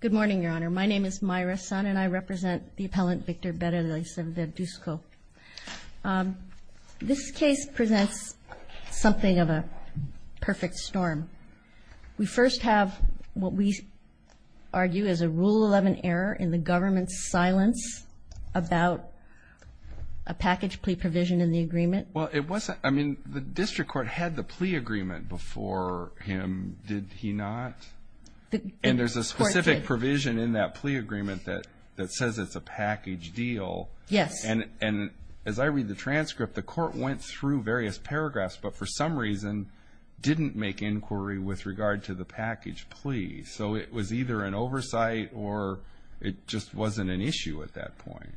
Good morning, Your Honor. My name is Mayra Sun and I represent the appellant Victor Berrelleza-Verduzco. This case presents something of a perfect storm. We first have what we argue is a Rule 11 error in the government's silence about a package plea provision in the agreement. Well, it wasn't, I mean, the district court had the plea agreement before him, did he not? And there's a specific provision in that plea agreement that says it's a package deal. Yes. And as I read the transcript, the court went through various paragraphs, but for some reason, didn't make inquiry with regard to the package plea. So it was either an oversight or it just wasn't an issue at that point.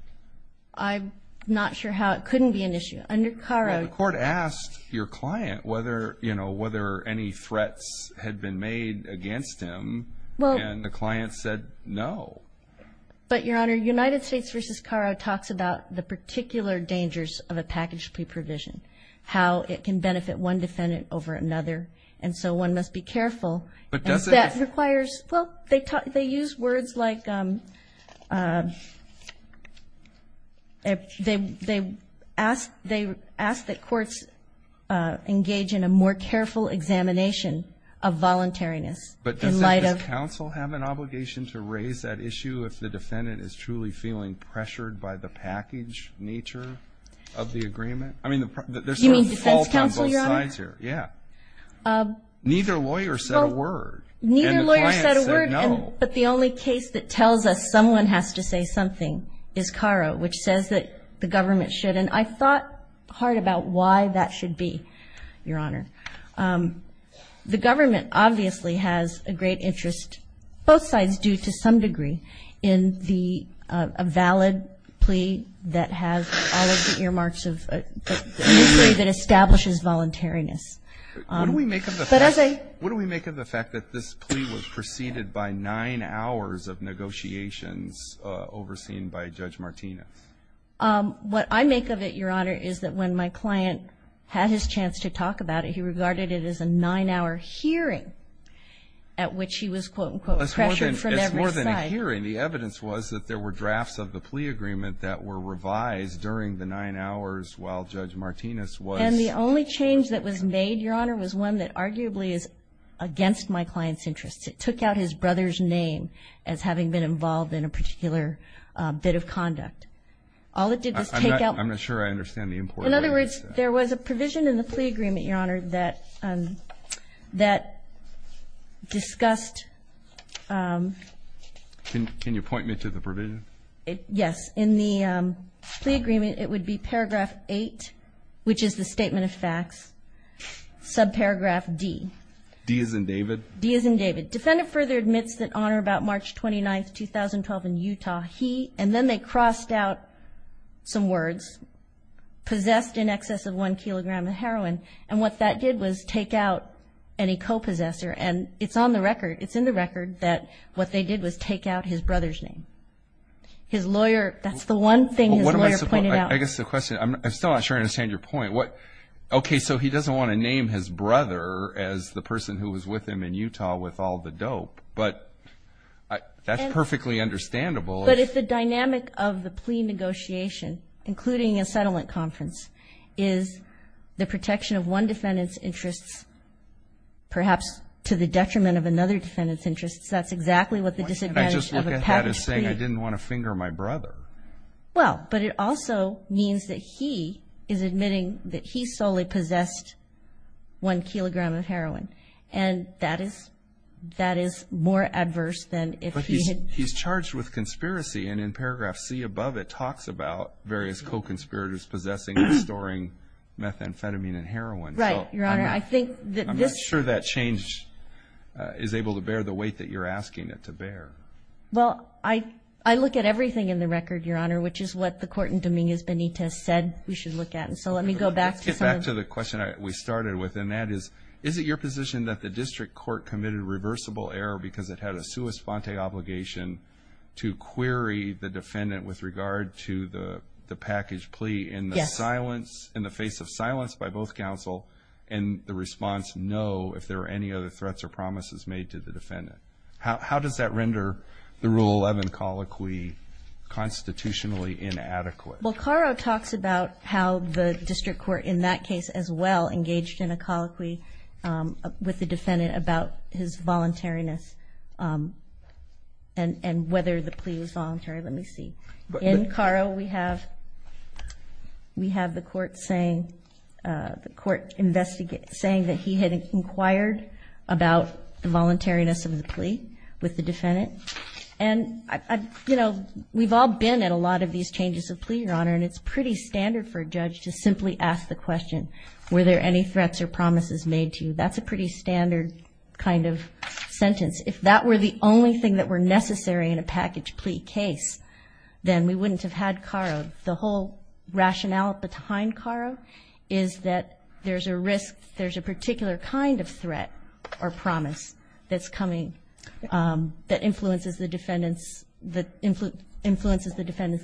I'm not sure how it couldn't be an issue under Caro. The court asked your client whether, you know, whether any threats had been made against him and the client said no. But, Your Honor, United States v. Caro talks about the particular dangers of a package plea provision, how it can benefit one defendant over another. And so one must be careful. But does it? That requires, well, they use words like they ask that courts engage in a more careful examination of voluntariness. But does counsel have an obligation to raise that issue if the defendant is truly feeling pressured by the package nature of the agreement? I mean, there's a fault on both sides here. Yeah. Neither lawyer said a word. Neither lawyer said a word, but the only case that tells us someone has to say something is Caro, which says that the government should. And I thought hard about why that should be, Your Honor. The government obviously has a great interest, both sides do to some degree, in the valid plea that has all of the earmarks of a decree that establishes voluntariness. What do we make of the fact that this plea was preceded by nine hours of negotiations overseen by Judge Martinez? What I make of it, Your Honor, is that when my client had his chance to talk about it, he regarded it as a nine-hour hearing at which he was, quote, unquote, pressured from every side. Well, it's more than a hearing. The evidence was that there were drafts of the plea agreement that were revised during the nine hours while Judge Martinez was. And the only change that was made, Your Honor, was one that arguably is against my client's interests. It took out his brother's name as having been involved in a particular bit of conduct. All it did was take out. I'm not sure I understand the importance of that. There was a provision in the plea agreement, Your Honor, that discussed. Can you point me to the provision? Yes. In the plea agreement, it would be paragraph 8, which is the statement of facts, subparagraph D. D as in David? D as in David. Defendant further admits that on or about March 29, 2012, in Utah, he, and then they crossed out some words, possessed in excess of one kilogram of heroin. And what that did was take out any co-possessor. And it's on the record, it's in the record, that what they did was take out his brother's name. His lawyer, that's the one thing his lawyer pointed out. I guess the question, I'm still not sure I understand your point. Okay, so he doesn't want to name his brother as the person who was with him in Utah with all the dope. But that's perfectly understandable. But if the dynamic of the plea negotiation, including a settlement conference, is the protection of one defendant's interests, perhaps to the detriment of another defendant's interests, that's exactly what the disadvantage of a patent would be. Why can't I just look at that as saying I didn't want to finger my brother? Well, but it also means that he is admitting that he solely possessed one kilogram of heroin. And that is more adverse than if he had. But he's charged with conspiracy. And in paragraph C above, it talks about various co-conspirators possessing and storing methamphetamine and heroin. Right, Your Honor. I'm not sure that change is able to bear the weight that you're asking it to bear. Well, I look at everything in the record, Your Honor, which is what the court in Dominguez Benitez said we should look at. And so let me go back. Let's get back to the question we started with. And that is, is it your position that the district court committed reversible error because it had a sua sponte obligation to query the defendant with regard to the package plea in the silence, in the face of silence by both counsel and the response, no, if there were any other threats or promises made to the defendant? How does that render the Rule 11 colloquy constitutionally inadequate? Well, Caro talks about how the district court in that case as well engaged in a colloquy with the defendant about his voluntariness and whether the plea was voluntary. Let me see. In Caro we have the court saying that he had inquired about the voluntariness of the plea with the defendant. And, you know, we've all been at a lot of these changes of plea, Your Honor, and it's pretty standard for a judge to simply ask the question, were there any threats or promises made to you? That's a pretty standard kind of sentence. If that were the only thing that were necessary in a package plea case, then we wouldn't have had Caro. The whole rationale behind Caro is that there's a risk, there's a particular kind of threat or promise that's coming that influences the defendant's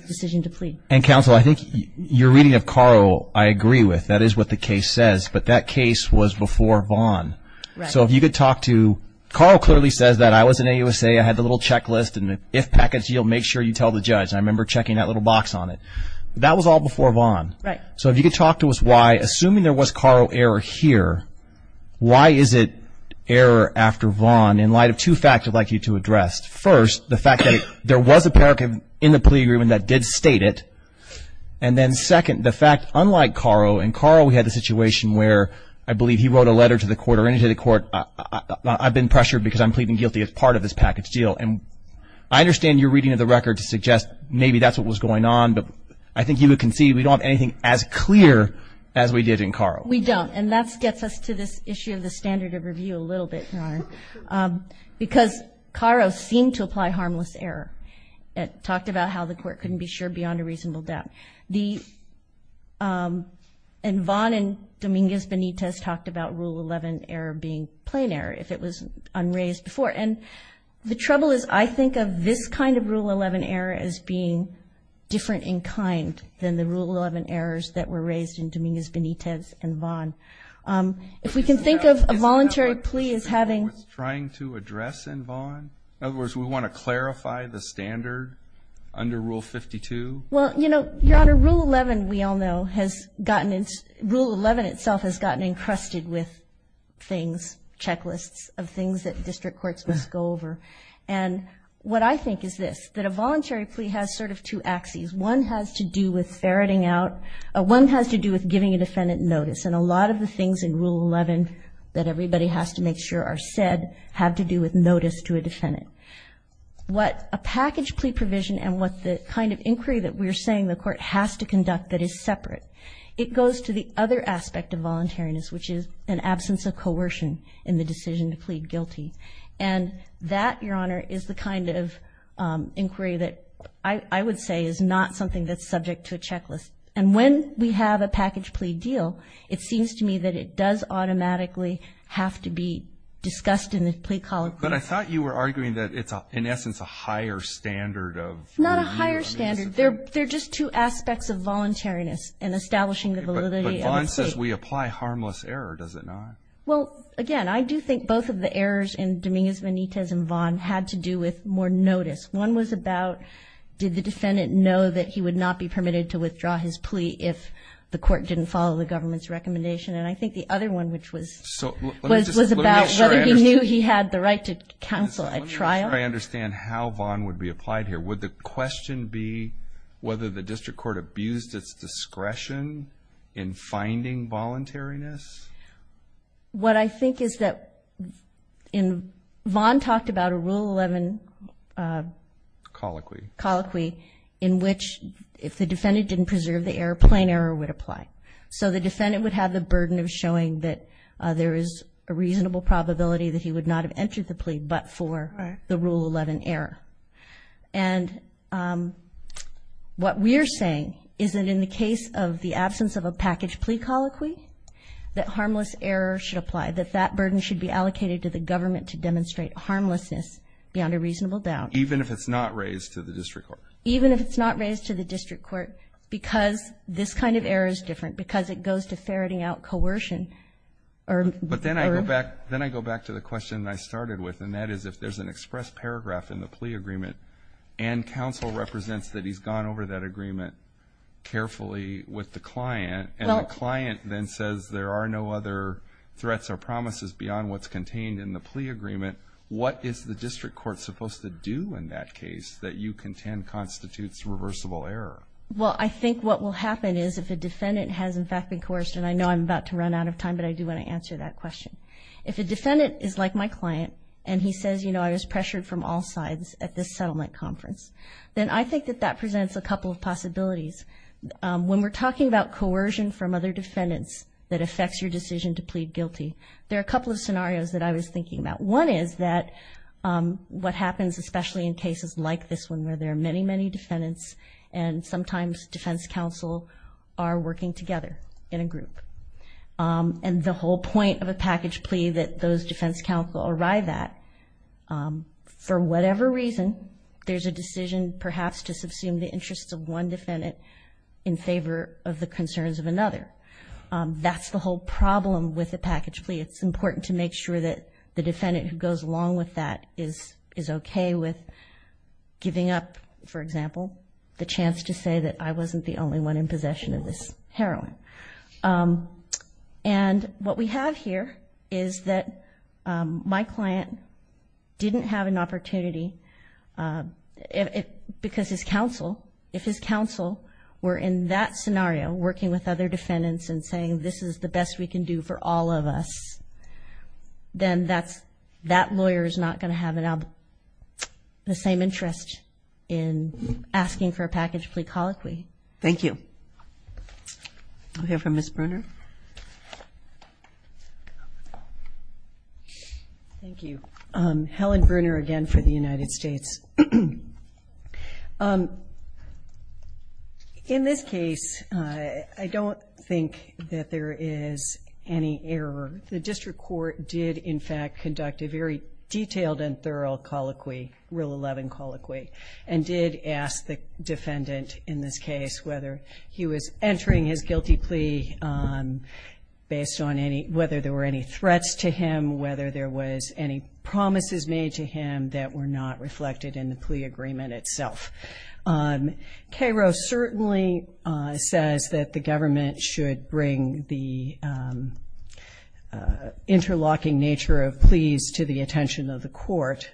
decision to plea. And, counsel, I think your reading of Caro I agree with. That is what the case says, but that case was before Vaughn. Right. So if you could talk to, Caro clearly says that I was in AUSA, I had the little checklist, and if package deal, make sure you tell the judge. I remember checking that little box on it. That was all before Vaughn. Right. So if you could talk to us why, assuming there was Caro error here, why is it error after Vaughn in light of two facts I'd like you to address. First, the fact that there was a parochial in the plea agreement that did state it. And then, second, the fact, unlike Caro, in Caro we had a situation where I believe he wrote a letter to the court I've been pressured because I'm pleading guilty as part of this package deal. And I understand your reading of the record to suggest maybe that's what was going on, but I think you can see we don't have anything as clear as we did in Caro. We don't. And that gets us to this issue of the standard of review a little bit, Ron, because Caro seemed to apply harmless error. It talked about how the court couldn't be sure beyond a reasonable doubt. And Vaughn and Dominguez-Benitez talked about Rule 11 error being plain error if it was unraised before. And the trouble is I think of this kind of Rule 11 error as being different in kind than the Rule 11 errors that were raised in Dominguez-Benitez and Vaughn. If we can think of a voluntary plea as having ---- Trying to address in Vaughn? In other words, we want to clarify the standard under Rule 52? Well, you know, Your Honor, Rule 11, we all know, has gotten into ---- Rule 11 itself has gotten encrusted with things, checklists of things that district courts must go over. And what I think is this, that a voluntary plea has sort of two axes. One has to do with ferreting out ---- One has to do with giving a defendant notice. And a lot of the things in Rule 11 that everybody has to make sure are said have to do with notice to a defendant. What a package plea provision and what the kind of inquiry that we're saying the court has to conduct that is separate, it goes to the other aspect of voluntariness, which is an absence of coercion in the decision to plead guilty. And that, Your Honor, is the kind of inquiry that I would say is not something that's subject to a checklist. And when we have a package plea deal, it seems to me that it does automatically have to be discussed in the plea column. But I thought you were arguing that it's, in essence, a higher standard of ---- Not a higher standard. They're just two aspects of voluntariness in establishing the validity of the plea. But Vaughn says we apply harmless error, does it not? Well, again, I do think both of the errors in Dominguez-Benitez and Vaughn had to do with more notice. One was about did the defendant know that he would not be permitted to withdraw his plea if the court didn't follow the government's recommendation. And I think the other one, which was about whether he knew he had the right to counsel at trial. Let me just try to understand how Vaughn would be applied here. Would the question be whether the district court abused its discretion in finding voluntariness? What I think is that Vaughn talked about a Rule 11 colloquy in which if the defendant didn't preserve the error, plain error would apply. So the defendant would have the burden of showing that there is a reasonable probability that he would not have entered the plea but for the Rule 11 error. And what we're saying is that in the case of the absence of a package plea colloquy, that harmless error should apply, that that burden should be allocated to the government to demonstrate harmlessness beyond a reasonable doubt. Even if it's not raised to the district court? Even if it's not raised to the district court, because this kind of error is different, because it goes to ferreting out coercion. But then I go back to the question I started with, and that is if there's an express paragraph in the plea agreement and counsel represents that he's gone over that agreement carefully with the client, and the client then says there are no other threats or promises beyond what's contained in the plea agreement, what is the district court supposed to do in that case that you contend constitutes reversible error? Well, I think what will happen is if a defendant has in fact been coerced, and I know I'm about to run out of time, but I do want to answer that question. If a defendant is like my client and he says, you know, I was pressured from all sides at this settlement conference, then I think that that presents a couple of possibilities. When we're talking about coercion from other defendants that affects your decision to plead guilty, there are a couple of scenarios that I was thinking about. One is that what happens, especially in cases like this one, where there are many, many defendants and sometimes defense counsel are working together in a group. And the whole point of a package plea that those defense counsel arrive at, for whatever reason there's a decision perhaps to subsume the interests of one defendant in favor of the concerns of another. That's the whole problem with a package plea. It's important to make sure that the defendant who goes along with that is okay with giving up, for example, the chance to say that I wasn't the only one in possession of this heroin. And what we have here is that my client didn't have an opportunity because his counsel, if his counsel were in that scenario working with other defendants and saying this is the best we can do for all of us, then that lawyer is not going to have the same interest in asking for a package plea colloquy. Thank you. We'll hear from Ms. Bruner. Thank you. Helen Bruner again for the United States. In this case, I don't think that there is any error. The district court did, in fact, conduct a very detailed and thorough colloquy, Rule 11 colloquy, and did ask the defendant in this case whether he was entering his guilty plea, based on whether there were any threats to him, whether there was any promises made to him that were not reflected in the plea agreement itself. Cairo certainly says that the government should bring the interlocking nature of pleas to the attention of the court.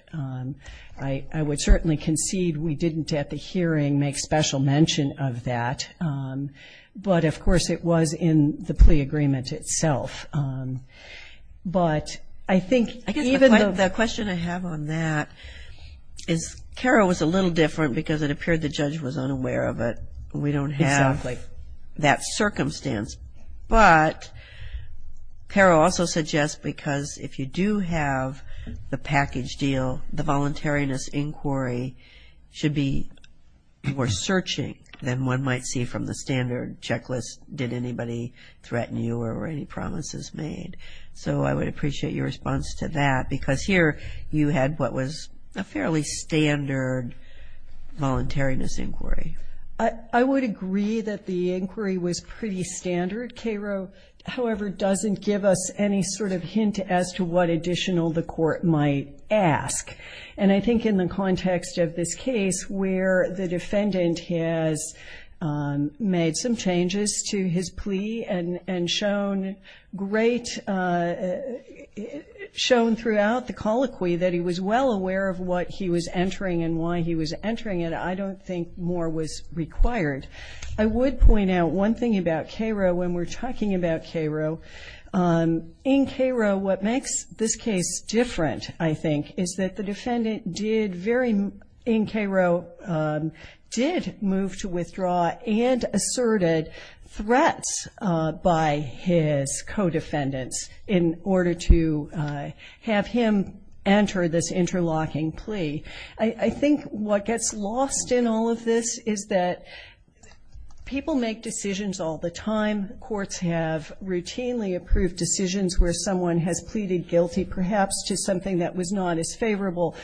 I would certainly concede we didn't at the hearing make special mention of that, but, of course, it was in the plea agreement itself. But I think even the question I have on that is Cairo was a little different because it appeared the judge was unaware of it. We don't have that circumstance. But Cairo also suggests because if you do have the package deal, the voluntariness inquiry should be more searching than one might see from the standard checklist. Did anybody threaten you or were any promises made? So I would appreciate your response to that because here you had what was a fairly standard voluntariness inquiry. I would agree that the inquiry was pretty standard. Cairo, however, doesn't give us any sort of hint as to what additional the court might ask. And I think in the context of this case where the defendant has made some changes to his plea and shown throughout the colloquy that he was well aware of what he was entering and why he was entering it, I don't think more was required. I would point out one thing about Cairo when we're talking about Cairo. In Cairo, what makes this case different, I think, is that the defendant did move to withdraw and asserted threats by his co-defendants in order to have him enter this interlocking plea. I think what gets lost in all of this is that people make decisions all the time. Courts have routinely approved decisions where someone has pleaded guilty perhaps to something that was not as favorable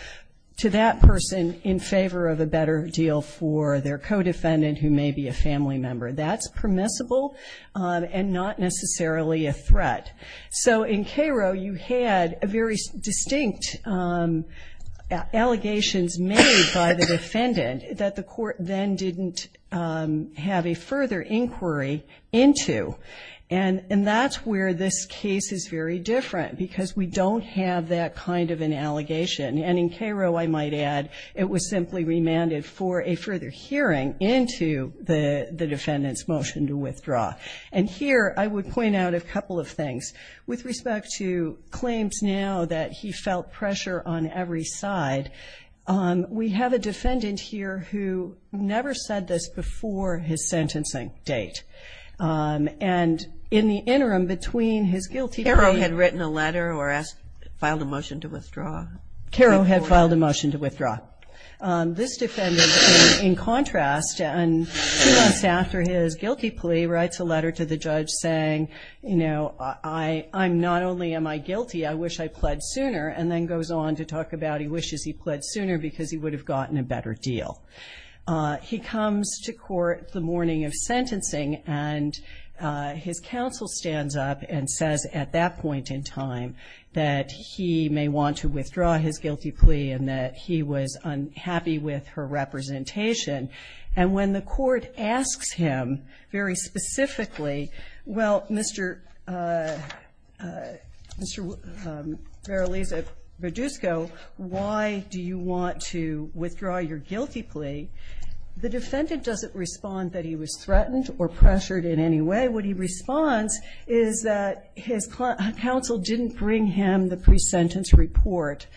to that person in favor of a better deal for their co-defendant who may be a family member. That's permissible and not necessarily a threat. So in Cairo, you had very distinct allegations made by the defendant that the court then didn't have a further inquiry into, and that's where this case is very different because we don't have that kind of an allegation. And in Cairo, I might add, it was simply remanded for a further hearing into the defendant's motion to withdraw. And here I would point out a couple of things. With respect to claims now that he felt pressure on every side, we have a defendant here who never said this before his sentencing date. And in the interim between his guilty plea- Cairo had written a letter or filed a motion to withdraw. Cairo had filed a motion to withdraw. This defendant, in contrast, and two months after his guilty plea, writes a letter to the judge saying, you know, I'm not only am I guilty, I wish I pled sooner. And then goes on to talk about he wishes he pled sooner because he would have gotten a better deal. He comes to court the morning of sentencing, and his counsel stands up and says at that point in time that he may want to withdraw his guilty plea and that he was unhappy with her representation. And when the court asks him very specifically, well, Mr. Verolese-Brodusco, why do you want to withdraw your guilty plea? The defendant doesn't respond that he was threatened or pressured in any way. What he responds is that his counsel didn't bring him the pre-sentence report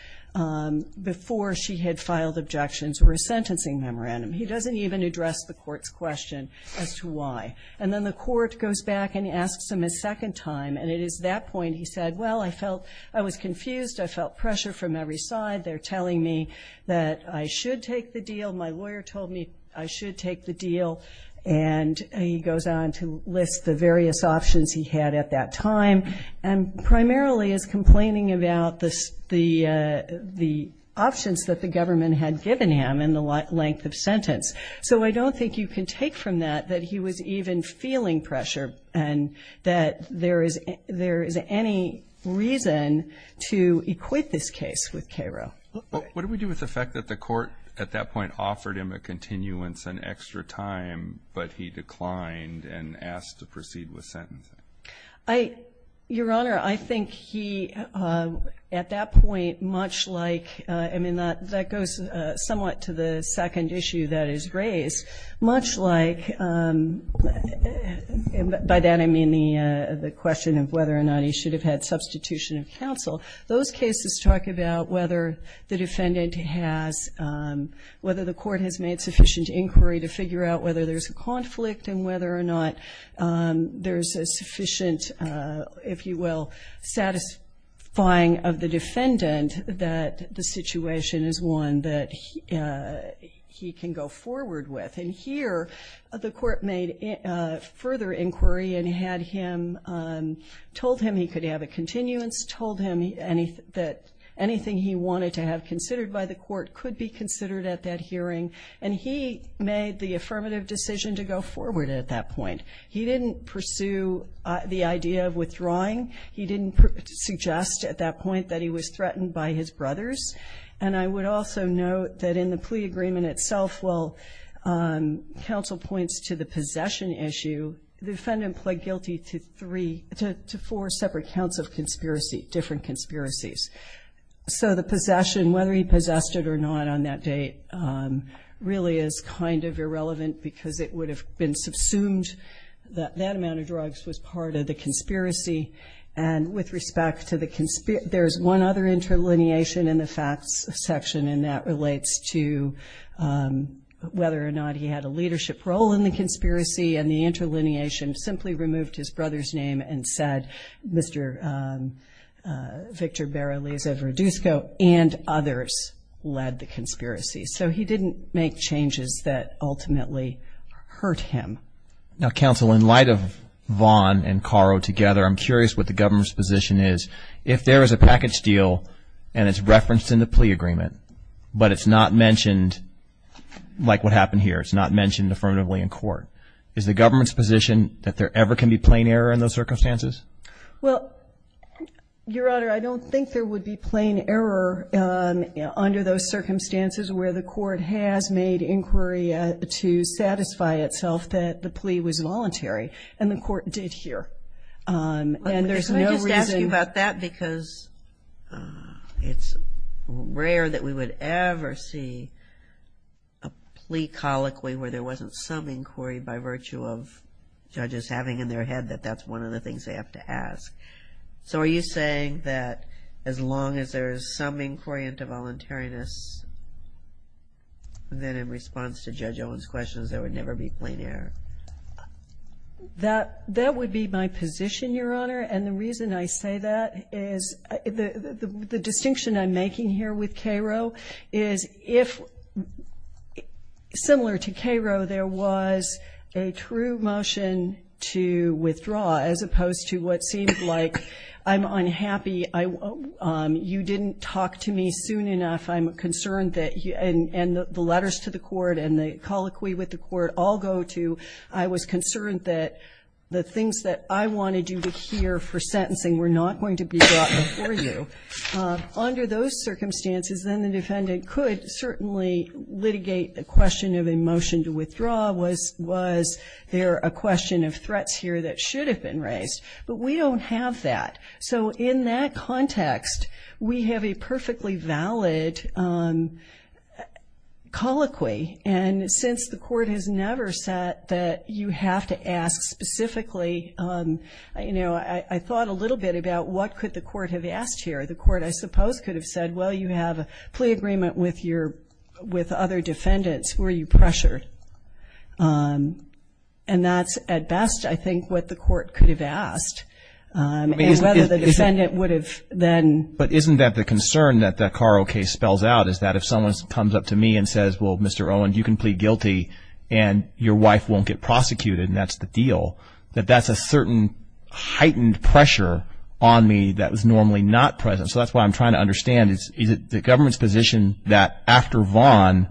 before she had filed objections or a sentencing memorandum. He doesn't even address the court's question as to why. And then the court goes back and asks him a second time, and it is that point he said, well, I felt I was confused. I felt pressure from every side. They're telling me that I should take the deal. My lawyer told me I should take the deal. And he goes on to list the various options he had at that time, and primarily is complaining about the options that the government had given him in the length of sentence. So I don't think you can take from that that he was even feeling pressure and that there is any reason to equate this case with Cairo. What do we do with the fact that the court at that point offered him a continuance and extra time, but he declined and asked to proceed with sentencing? Your Honor, I think he, at that point, much like, I mean, that goes somewhat to the second issue that is raised. Much like, by that I mean the question of whether or not he should have had substitution of counsel, those cases talk about whether the defendant has, whether the court has made sufficient inquiry to figure out whether there's a conflict and whether or not there's a sufficient, if you will, satisfying of the defendant that the situation is one that he can go forward with. And here the court made further inquiry and had him, told him he could have a continuance, told him that anything he wanted to have considered by the court could be considered at that hearing. And he made the affirmative decision to go forward at that point. He didn't pursue the idea of withdrawing. He didn't suggest at that point that he was threatened by his brothers. And I would also note that in the plea agreement itself, while counsel points to the possession issue, the defendant pled guilty to three, to four separate counts of conspiracy, different conspiracies. So the possession, whether he possessed it or not on that date, really is kind of irrelevant because it would have been subsumed. That amount of drugs was part of the conspiracy. And with respect to the conspiracy, there's one other interlineation in the facts section, and that relates to whether or not he had a leadership role in the conspiracy. And the interlineation simply removed his brother's name and said, Mr. Victor Barrales of Rodusco and others led the conspiracy. So he didn't make changes that ultimately hurt him. Now, counsel, in light of Vaughn and Caro together, I'm curious what the government's position is. If there is a package deal and it's referenced in the plea agreement, but it's not mentioned, like what happened here, it's not mentioned affirmatively in court, is the government's position that there ever can be plain error in those circumstances? Well, Your Honor, I don't think there would be plain error under those circumstances where the court has made inquiry to satisfy itself that the plea was voluntary, and the court did here. And there's no reason. Let me just ask you about that because it's rare that we would ever see a plea colloquy where there wasn't some inquiry by virtue of judges having in their head that that's one of the things they have to ask. So are you saying that as long as there is some inquiry into voluntariness, then in response to Judge Owen's questions, there would never be plain error? That would be my position, Your Honor. And the reason I say that is the distinction I'm making here with Caro is if, similar to Caro, there was a true motion to withdraw as opposed to what seems like I'm unhappy, you didn't talk to me soon enough, I'm concerned that, and the letters to the court and the colloquy with the court all go to, I was concerned that the things that I wanted you to hear for sentencing were not going to be brought before you. Under those circumstances, then the defendant could certainly litigate the question of a motion to withdraw. Was there a question of threats here that should have been raised? But we don't have that. So in that context, we have a perfectly valid colloquy. And since the court has never said that you have to ask specifically, you know, I thought a little bit about what could the court have asked here. The court, I suppose, could have said, well, you have a plea agreement with other defendants. Were you pressured? And that's, at best, I think what the court could have asked. And whether the defendant would have then. But isn't that the concern that the Caro case spells out, is that if someone comes up to me and says, well, Mr. Owen, you can plead guilty and your wife won't get prosecuted and that's the deal, that that's a certain heightened pressure on me that was normally not present. So that's why I'm trying to understand, is it the government's position that after Vaughn,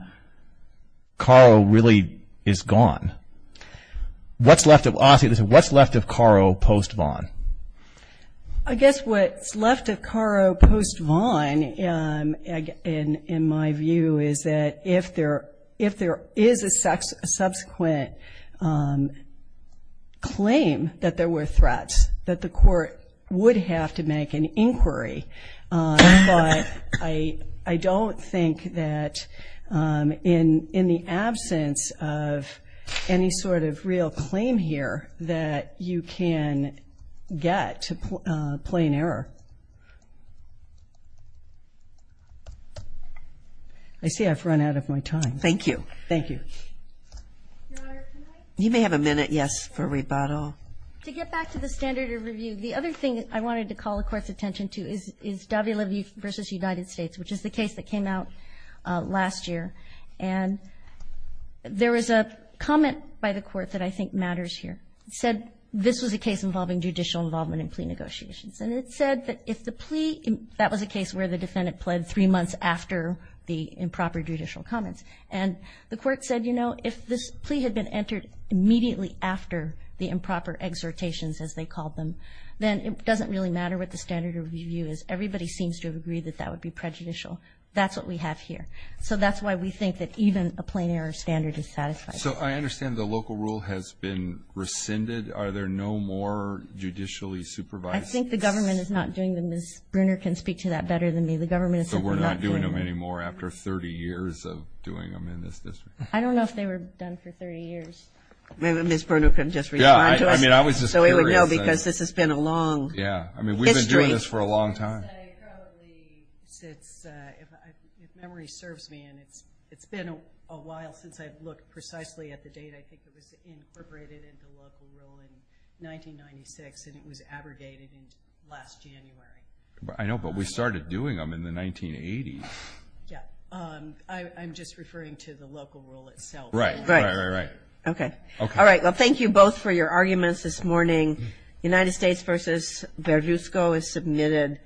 Caro really is gone? Honestly, what's left of Caro post-Vaughn? I guess what's left of Caro post-Vaughn, in my view, is that if there is a subsequent claim that there were threats, that the court would have to make an inquiry. But I don't think that in the absence of any sort of real claim here that you can get plain error. I see I've run out of my time. Thank you. Thank you. Your Honor, can I? You may have a minute, yes, for rebuttal. To get back to the standard of review, the other thing I wanted to call the Court's attention to is Davila v. United States, which is the case that came out last year. And there was a comment by the Court that I think matters here. It said this was a case involving judicial involvement in plea negotiations. And it said that if the plea, that was a case where the defendant pled three months after the improper judicial comments. And the Court said, you know, if this plea had been entered immediately after the improper exhortations, as they called them, then it doesn't really matter what the standard of review is. Everybody seems to agree that that would be prejudicial. That's what we have here. So that's why we think that even a plain error standard is satisfactory. So I understand the local rule has been rescinded. Are there no more judicially supervised? I think the government is not doing them. Ms. Bruner can speak to that better than me. The government is not doing them. So we're not doing them anymore after 30 years of doing them in this district? I don't know if they were done for 30 years. Maybe Ms. Bruner can just respond to us. Yeah, I mean, I was just curious. So we would know because this has been a long history. Yeah, I mean, we've been doing this for a long time. I would say probably since, if memory serves me, and it's been a while since I've looked precisely at the date. I think it was incorporated into local rule in 1996. And it was abrogated in last January. I know, but we started doing them in the 1980s. I'm just referring to the local rule itself. Right, right, right, right. Okay. All right, well, thank you both for your arguments this morning. United States v. Berlusco is submitted.